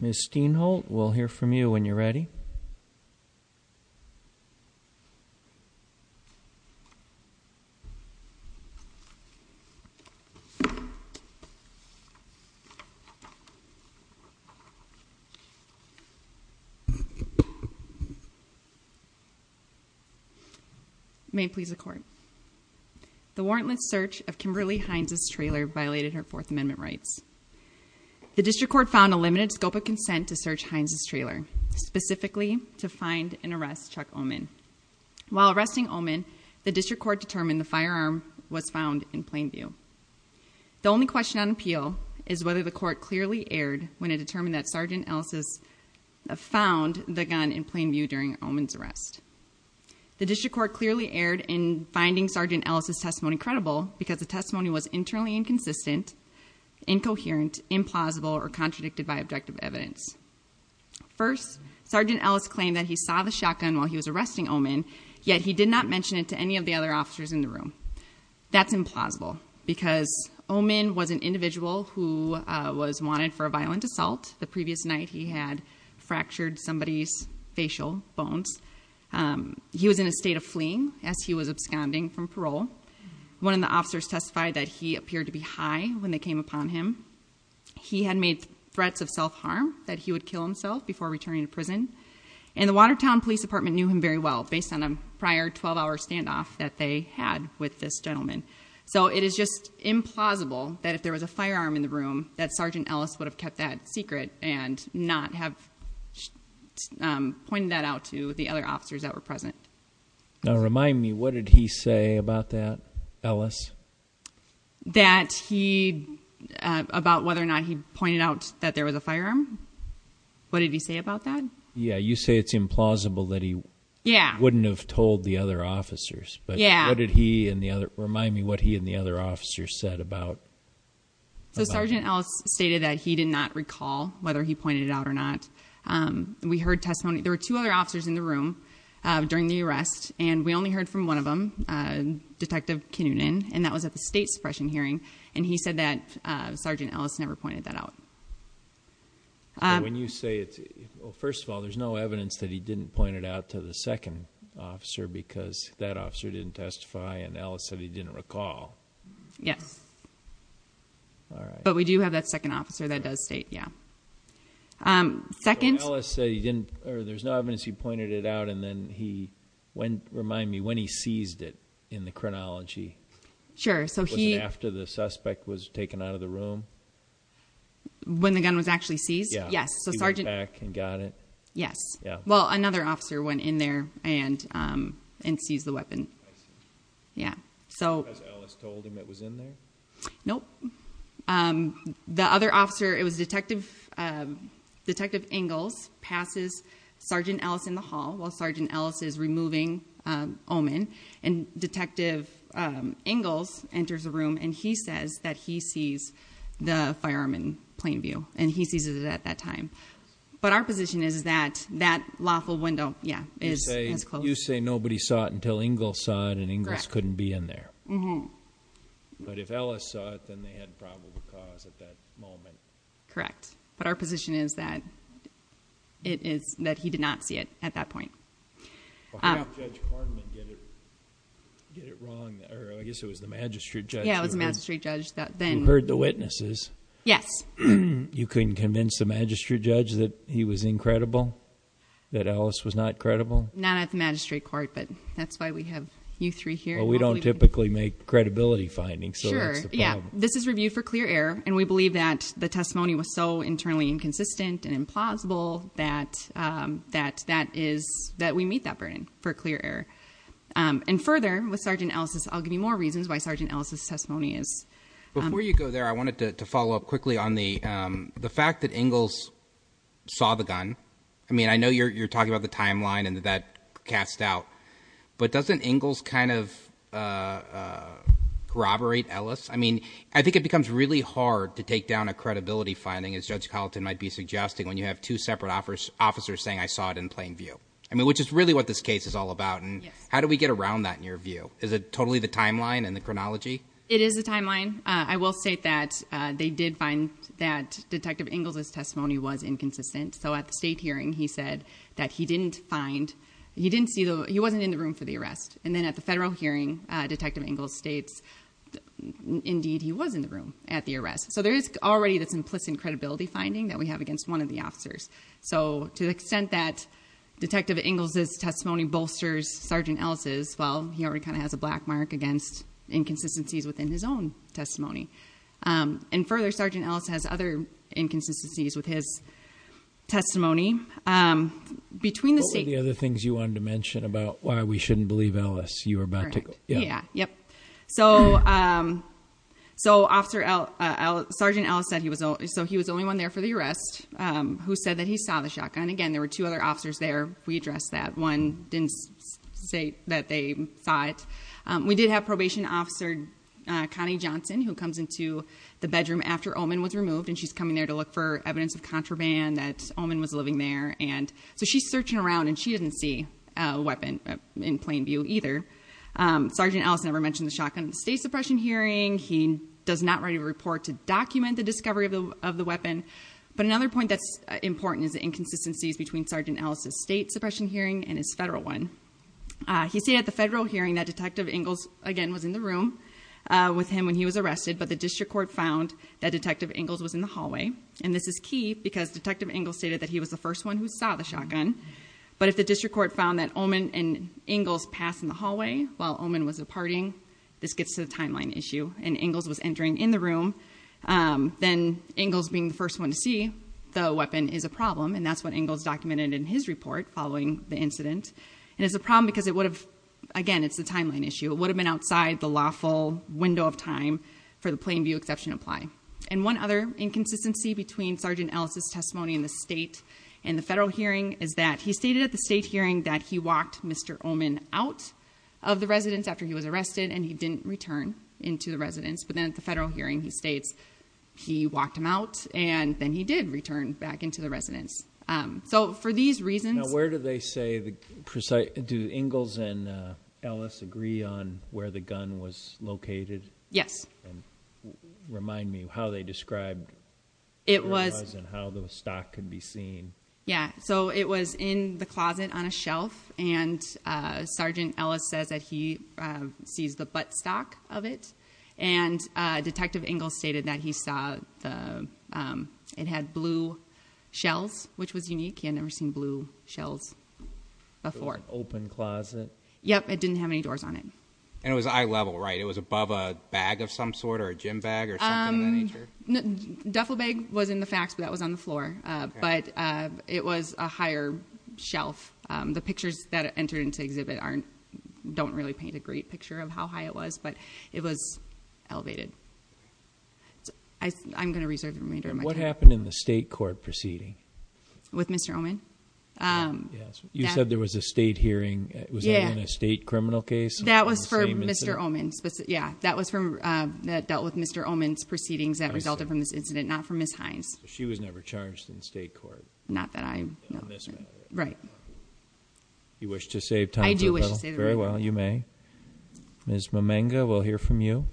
Ms. Steenholt, we'll hear from you when you're ready. May it please the Court. The warrantless search of Kimberly Hines' trailer violated her Fourth Amendment rights. The District Court found a limited scope of consent to search Hines' trailer, specifically to find and arrest Chuck Oman. While arresting Oman, the District Court determined the firearm was found in Plainview. The only question on appeal is whether the Court clearly erred when it determined that Sgt. Ellis' found the gun in Plainview during Oman's arrest. The District Court clearly erred in finding Sgt. Ellis' testimony credible because the testimony was internally inconsistent, incoherent, implausible, or contradicted by objective evidence. First, Sgt. Ellis claimed that he saw the shotgun while he was arresting Oman, yet he did not mention it to any of the other officers in the room. That's implausible because Oman was an individual who was wanted for a violent assault. The previous night he had fractured somebody's facial bones. He was in a state of fleeing as he was absconding from parole. One of the officers testified that he appeared to be high when they came upon him. He had made threats of self-harm, that he would kill himself before returning to prison. And the Watertown Police Department knew him very well based on a prior 12-hour standoff that they had with this gentleman. So it is just implausible that if there was a firearm in the room, that Sgt. Ellis would have kept that secret and not have pointed that out to the other officers that were present. Now remind me, what did he say about that, Ellis? That he, about whether or not he pointed out that there was a firearm? What did he say about that? Yeah, you say it's implausible that he wouldn't have told the other officers. But what did he and the other, remind me what he and the other officers said about... So Sgt. Ellis stated that he did not recall whether he pointed it out or not. We heard testimony. There were two other officers in the room during the arrest, and we only heard from one of them, Detective Kinnunen, and that was at the state suppression hearing. And he said that Sgt. Ellis never pointed that out. When you say it's, well, first of all, there's no evidence that he didn't point it out to the second officer because that officer didn't testify and Ellis said he didn't recall. Yes. All right. But we do have that second officer that does state, yeah. Second... So Ellis said he didn't, or there's no evidence he pointed it out, and then he went, remind me, when he seized it in the chronology? Sure, so he... Was it after the suspect was taken out of the room? When the gun was actually seized? Yeah. Yes, so Sgt... He went back and got it? Yes. Yeah. Well, another officer went in there and seized the weapon. I see. Yeah, so... Has Ellis told him it was in there? Nope. The other officer, it was Detective Ingalls passes Sgt. Ellis in the hall while Sgt. Ellis is removing Oman, and Detective Ingalls enters the room and he says that he seized the firearm in plain view, and he seized it at that time. But our position is that that lawful window, yeah, is closed. You say nobody saw it until Ingalls saw it and Ingalls couldn't be in there. But if Ellis saw it, then they had probable cause at that moment. Correct. But our position is that he did not see it at that point. Well, how did Judge Kornman get it wrong? I guess it was the magistrate judge. Yeah, it was the magistrate judge that then... Who heard the witnesses. Yes. You couldn't convince the magistrate judge that he was incredible, that Ellis was not credible? Not at the magistrate court, but that's why we have you three here. Well, we don't typically make credibility findings, so that's the problem. Sure, yeah. This is reviewed for clear error, and we believe that the testimony was so internally inconsistent and implausible that we meet that burden for clear error. And further, with Sgt. Ellis, I'll give you more reasons why Sgt. Ellis' testimony is... Before you go there, I wanted to follow up quickly on the fact that Ingalls saw the gun. I mean, I know you're talking about the timeline and that cast out, but doesn't Ingalls kind of corroborate Ellis? I mean, I think it becomes really hard to take down a credibility finding, as Judge Colleton might be suggesting, when you have two separate officers saying, I saw it in plain view, which is really what this case is all about. How do we get around that in your view? Is it totally the timeline and the chronology? It is the timeline. I will state that they did find that Detective Ingalls' testimony was inconsistent. So at the state hearing, he said that he didn't find... He wasn't in the room for the arrest. And then at the federal hearing, Detective Ingalls states, indeed, he was in the room at the arrest. So there is already this implicit credibility finding that we have against one of the officers. So to the extent that Detective Ingalls' testimony bolsters Sgt. Ellis', well, he already kind of has a black mark against inconsistencies within his own testimony. And further, Sgt. Ellis has other inconsistencies with his testimony. Between the state... What were the other things you wanted to mention about why we shouldn't believe Ellis? Correct. Yeah. Yep. So Sgt. Ellis said he was the only one there for the arrest who said that he saw the shotgun. Again, there were two other officers there. We addressed that. One didn't say that they saw it. We did have Probation Officer Connie Johnson, who comes into the bedroom after Oman was removed, and she's coming there to look for evidence of contraband, that Oman was living there. So she's searching around, and she didn't see a weapon in plain view either. Sgt. Ellis never mentioned the shotgun at the state suppression hearing. He does not write a report to document the discovery of the weapon. But another point that's important is the inconsistencies between Sgt. Ellis' state suppression hearing and his federal one. He said at the federal hearing that Detective Ingalls, again, was in the room with him when he was arrested, but the district court found that Detective Ingalls was in the hallway. And this is key because Detective Ingalls stated that he was the first one who saw the shotgun. But if the district court found that Oman and Ingalls passed in the hallway while Oman was departing, this gets to the timeline issue, and Ingalls was entering in the room, then Ingalls being the first one to see the weapon is a problem, and that's what Ingalls documented in his report following the incident. And it's a problem because it would have, again, it's a timeline issue. It would have been outside the lawful window of time for the plain view exception to apply. And one other inconsistency between Sgt. Ellis' testimony in the state and the federal hearing is that he stated at the state hearing that he walked Mr. Oman out of the residence after he was arrested, and he didn't return into the residence. But then at the federal hearing, he states he walked him out, and then he did return back into the residence. So for these reasons... Do Ingalls and Ellis agree on where the gun was located? Yes. Remind me how they described what it was and how the stock could be seen. Yeah, so it was in the closet on a shelf, and Sgt. Ellis says that he sees the buttstock of it, and Detective Ingalls stated that he saw it had blue shells, which was unique. He had never seen blue shells before. Open closet? Yep, it didn't have any doors on it. And it was eye-level, right? It was above a bag of some sort or a gym bag or something of that nature? Duffel bag was in the fax, but that was on the floor. But it was a higher shelf. The pictures that entered into the exhibit don't really paint a great picture of how high it was, but it was elevated. I'm going to reserve the remainder of my time. What happened in the state court proceeding? With Mr. Oman? You said there was a state hearing. Was that in a state criminal case? That was for Mr. Oman. Yeah, that was dealt with Mr. Oman's proceedings that resulted from this incident, not from Ms. Hines. She was never charged in state court? Not that I know of. Right. You wish to save time for a little? I do wish to save time. Very well, you may. Ms. Momenga, we'll hear from you.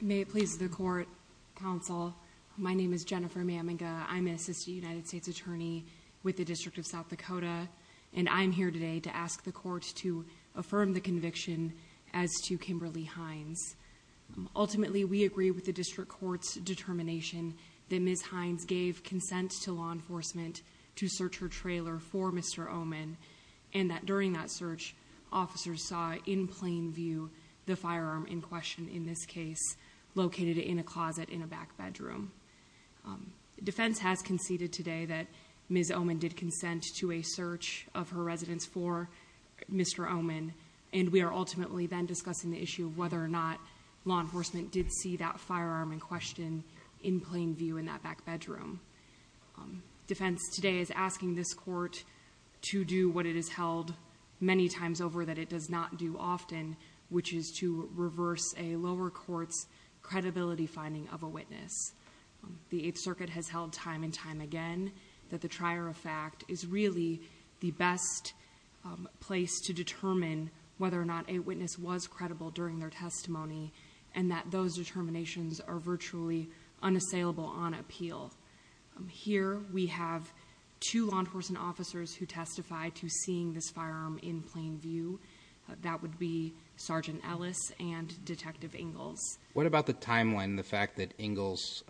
May it please the court, counsel. My name is Jennifer Momenga. I'm an assistant United States attorney with the District of South Dakota, and I'm here today to ask the court to affirm the conviction as to Kimberly Hines. of Kimberly Hines, but that it is in favor of the conviction of Kimberly Hines. Ms. Hines gave consent to law enforcement to search her trailer for Mr. Oman, and that during that search, officers saw in plain view the firearm in question in this case located in a closet in a back bedroom. Defense has conceded today that Ms. Oman did consent to a search of her residence for Mr. Oman, and we are ultimately then discussing the issue of whether or not law enforcement did see that firearm in question in plain view in that back bedroom. Defense today is asking this court to do what it has held many times over that it does not do often, which is to reverse a lower court's credibility finding of a witness. The Eighth Circuit has held time and time again that the trier of fact is really the best place to determine whether or not a witness was credible during their testimony, and that those determinations are virtually unassailable on appeal. Here we have two law enforcement officers who testify to seeing this firearm in plain view. That would be Sergeant Ellis and Detective Ingalls. What about the timeline, the fact that Ingalls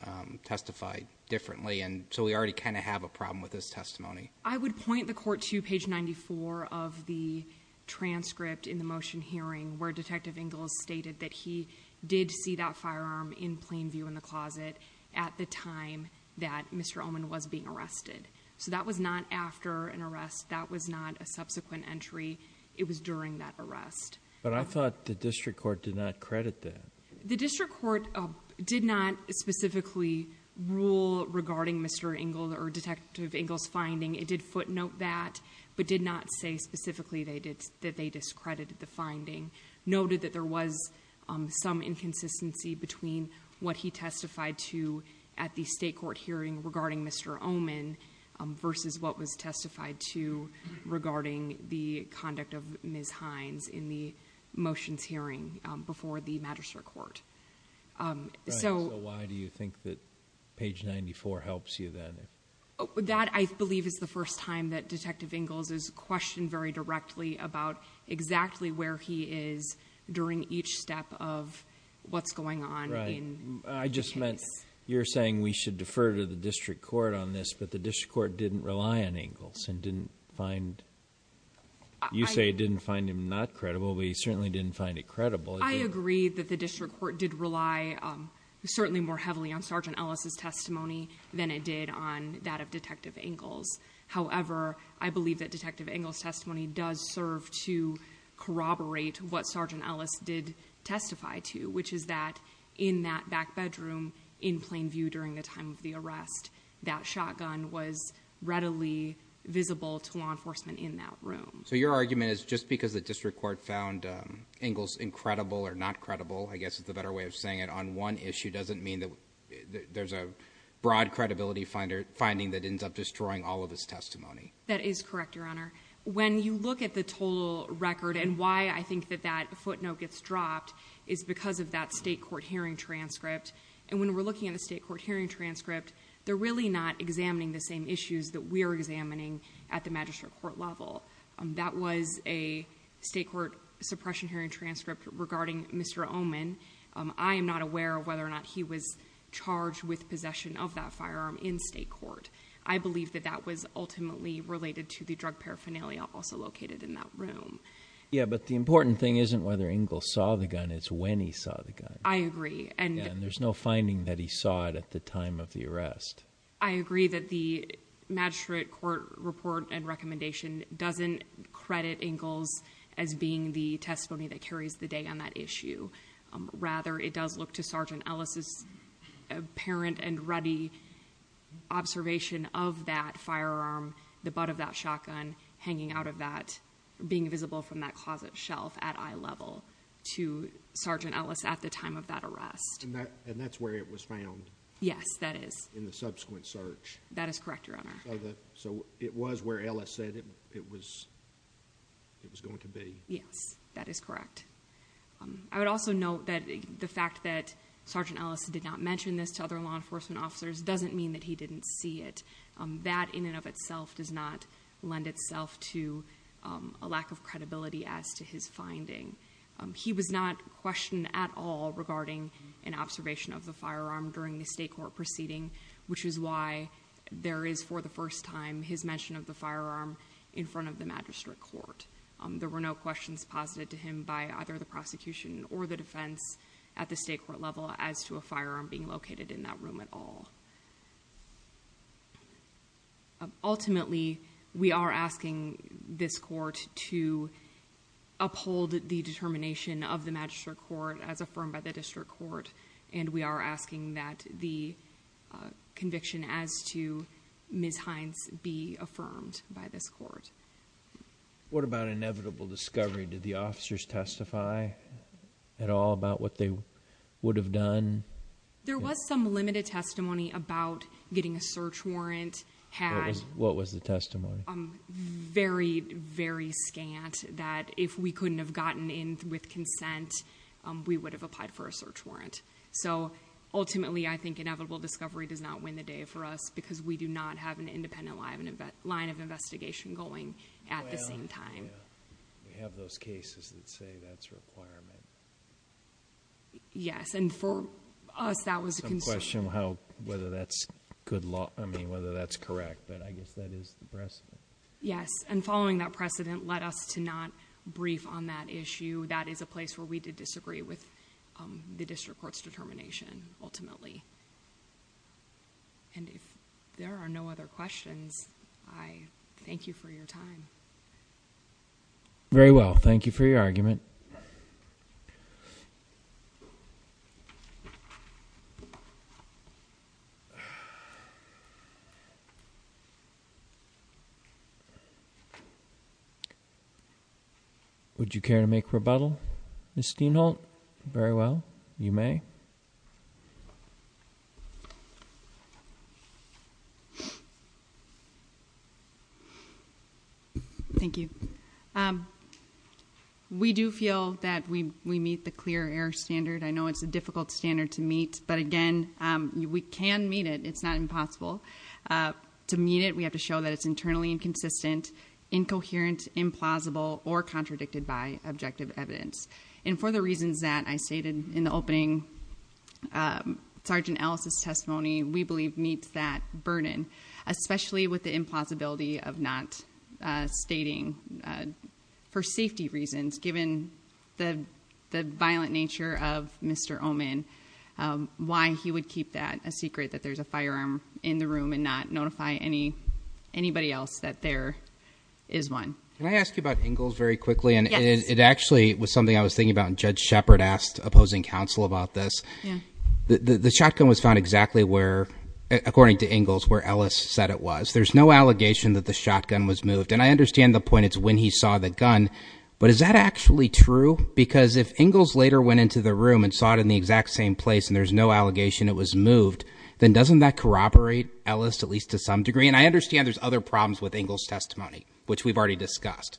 testified differently, and so we already kind of have a problem with his testimony? I would point the court to page 94 of the transcript in the motion hearing where Detective Ingalls stated that he did see that firearm in plain view in the closet at the time that Mr. Oman was being arrested. So that was not after an arrest. That was not a subsequent entry. It was during that arrest. But I thought the district court did not credit that. The district court did not specifically rule regarding Mr. Ingalls or Detective Ingalls' finding. It did footnote that, but did not say specifically that they discredited the finding, noted that there was some inconsistency between what he testified to at the state court hearing regarding Mr. Oman versus what was testified to regarding the conduct of Ms. Hines in the motions hearing before the magistrate court. Right, so why do you think that page 94 helps you then? That, I believe, is the first time that Detective Ingalls is questioned very directly about exactly where he is during each step of what's going on in the case. Right, I just meant, you're saying we should defer to the district court on this, but the district court didn't rely on Ingalls and didn't find, you say it didn't find him not credible, but he certainly didn't find it credible. I agree that the district court did rely certainly more heavily on Sergeant Ellis' testimony than it did on that of Detective Ingalls. However, I believe that Detective Ingalls' testimony does serve to corroborate what Sergeant Ellis did testify to, which is that in that back bedroom in plain view during the time of the arrest, that shotgun was readily visible to law enforcement in that room. So your argument is just because the district court found Ingalls incredible or not credible, I guess is the better way of saying it, on one issue doesn't mean that there's a broad credibility finding that ends up destroying all of his testimony. That is correct, Your Honor. When you look at the total record and why I think that that footnote gets dropped is because of that state court hearing transcript. And when we're looking at a state court hearing transcript, they're really not examining the same issues that we're examining at the magistrate court level. That was a state court suppression hearing transcript regarding Mr. Oman. I am not aware of whether or not he was charged with possession of that firearm in state court. I believe that that was ultimately related to the drug paraphernalia also located in that room. Yeah, but the important thing isn't whether Ingalls saw the gun, it's when he saw the gun. I agree. And there's no finding that he saw it at the time of the arrest. I agree that the magistrate court report and recommendation doesn't credit Ingalls as being the testimony that carries the day on that issue. Rather, it does look to Sergeant Ellis' apparent and ready observation of that firearm, the butt of that shotgun hanging out of that, being visible from that closet shelf at eye level to Sergeant Ellis at the time of that arrest. And that's where it was found? Yes, that is. In the subsequent search? That is correct, Your Honor. So it was where Ellis said it was going to be? Yes, that is correct. I would also note that the fact that Sergeant Ellis did not mention this to other law enforcement officers doesn't mean that he didn't see it. That in and of itself does not lend itself to a lack of credibility as to his finding. He was not questioned at all regarding an observation of the firearm during the state court proceeding, which is why there is, for the first time, his mention of the firearm in front of the magistrate court. There were no questions posited to him by either the prosecution or the defense at the state court level as to a firearm being located in that room at all. Ultimately, we are asking this court to uphold the determination of the magistrate court as affirmed by the district court, and we are asking that the conviction as to Ms. Hines be affirmed by this court. What about inevitable discovery? Did the officers testify at all about what they would have done? There was some limited testimony about getting a search warrant. What was the testimony? Very, very scant that if we couldn't have gotten in with consent, we would have applied for a search warrant. Ultimately, I think inevitable discovery does not win the day for us because we do not have an independent line of investigation going at the same time. that say that's a requirement. Yes, and for us, that was a concern. I question whether that's correct, but I guess that is the precedent. Yes, and following that precedent led us to not brief on that issue. That is a place where we did disagree with the district court's determination, ultimately. And if there are no other questions, I thank you for your time. Very well. Thank you for your argument. Thank you. Would you care to make rebuttal? Ms. Steinholt? Very well. You may. Thank you. We do feel that we meet the clear air standard. I know it's a difficult standard to meet, but again, we can meet it. It's not impossible to meet it. We have to show that it's internally inconsistent, incoherent, implausible, or contradicted by objective evidence. And for the reasons that I stated in the opening Sergeant Ellis' testimony, we believe meets that burden, especially with the implausibility of not stating for safety reasons, given the violent nature of Mr. Oman, why he would keep that a secret, that there's a firearm in the room and not notify anybody else that there is one. Can I ask you about Ingalls very quickly? Yes. It actually was something I was thinking about when Judge Shepard asked opposing counsel about this. Yeah. The shotgun was found exactly where, according to Ingalls, where Ellis said it was. There's no allegation that the shotgun was moved. And I understand the point. It's when he saw the gun. But is that actually true? Because if Ingalls later went into the room and saw it in the exact same place and there's no allegation it was moved, then doesn't that corroborate Ellis at least to some degree? And I understand there's other problems with Ingalls' testimony, which we've already discussed.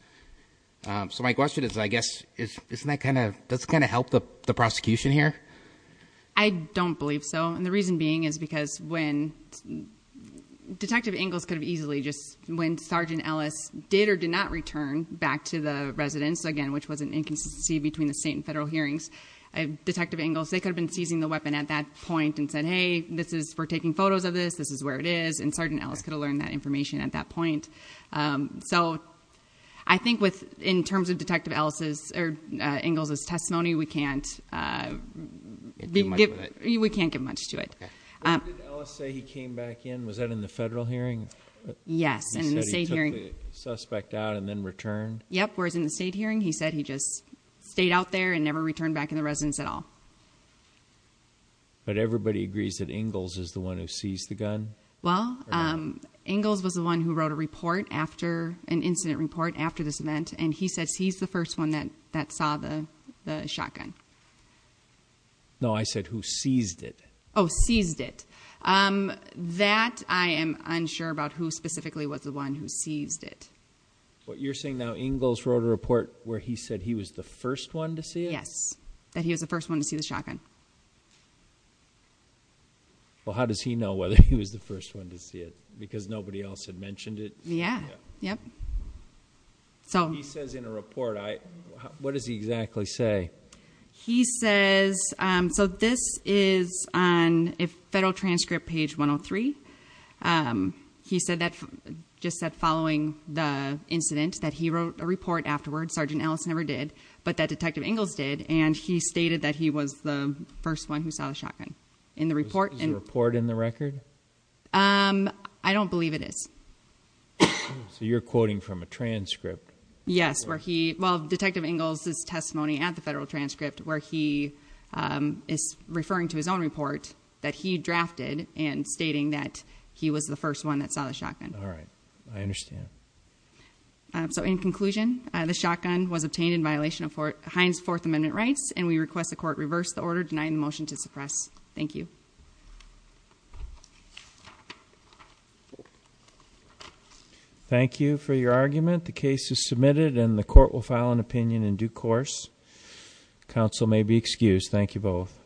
So my question is, I guess, doesn't that kind of help the prosecution here? I don't believe so. And the reason being is because when Detective Ingalls could have easily just, when Sergeant Ellis did or did not return back to the residence, again, which was an inconsistency between the state and federal hearings, Detective Ingalls, they could have been seizing the weapon at that point and said, hey, we're taking photos of this, this is where it is. And Sergeant Ellis could have learned that information at that point. So I think in terms of Detective Ingalls' testimony, we can't give much to it. Did Ellis say he came back in? Was that in the federal hearing? Yes, in the state hearing. He took the suspect out and then returned? Yep, whereas in the state hearing, he said he just stayed out there and never returned back in the residence at all. But everybody agrees that Ingalls is the one who seized the gun? Well, Ingalls was the one who wrote a report after, an incident report after this event, and he says he's the first one that saw the shotgun. No, I said who seized it. Oh, seized it. That I am unsure about, but who specifically was the one who seized it. What you're saying now, Ingalls wrote a report where he said he was the first one to see it? Yes, that he was the first one to see the shotgun. Well, how does he know whether he was the first one to see it? Because nobody else had mentioned it? Yeah, yep. He says in a report, what does he exactly say? He says, so this is on Federal Transcript page 103. He said that just following the incident that he wrote a report afterward, Sergeant Ellis never did, but that Detective Ingalls did, and he stated that he was the first one who saw the shotgun in the report. Is the report in the record? I don't believe it is. So you're quoting from a transcript? Yes, where he, well, Detective Ingalls' testimony at the Federal Transcript where he is referring to his own report that he drafted and stating that he was the first one that saw the shotgun. All right, I understand. So in conclusion, the shotgun was obtained in violation of Hines' Fourth Amendment rights, and we request the court reverse the order denying the motion to suppress. Thank you. Thank you for your argument. The case is submitted, and the court will file an opinion in due course. Counsel may be excused. Thank you both.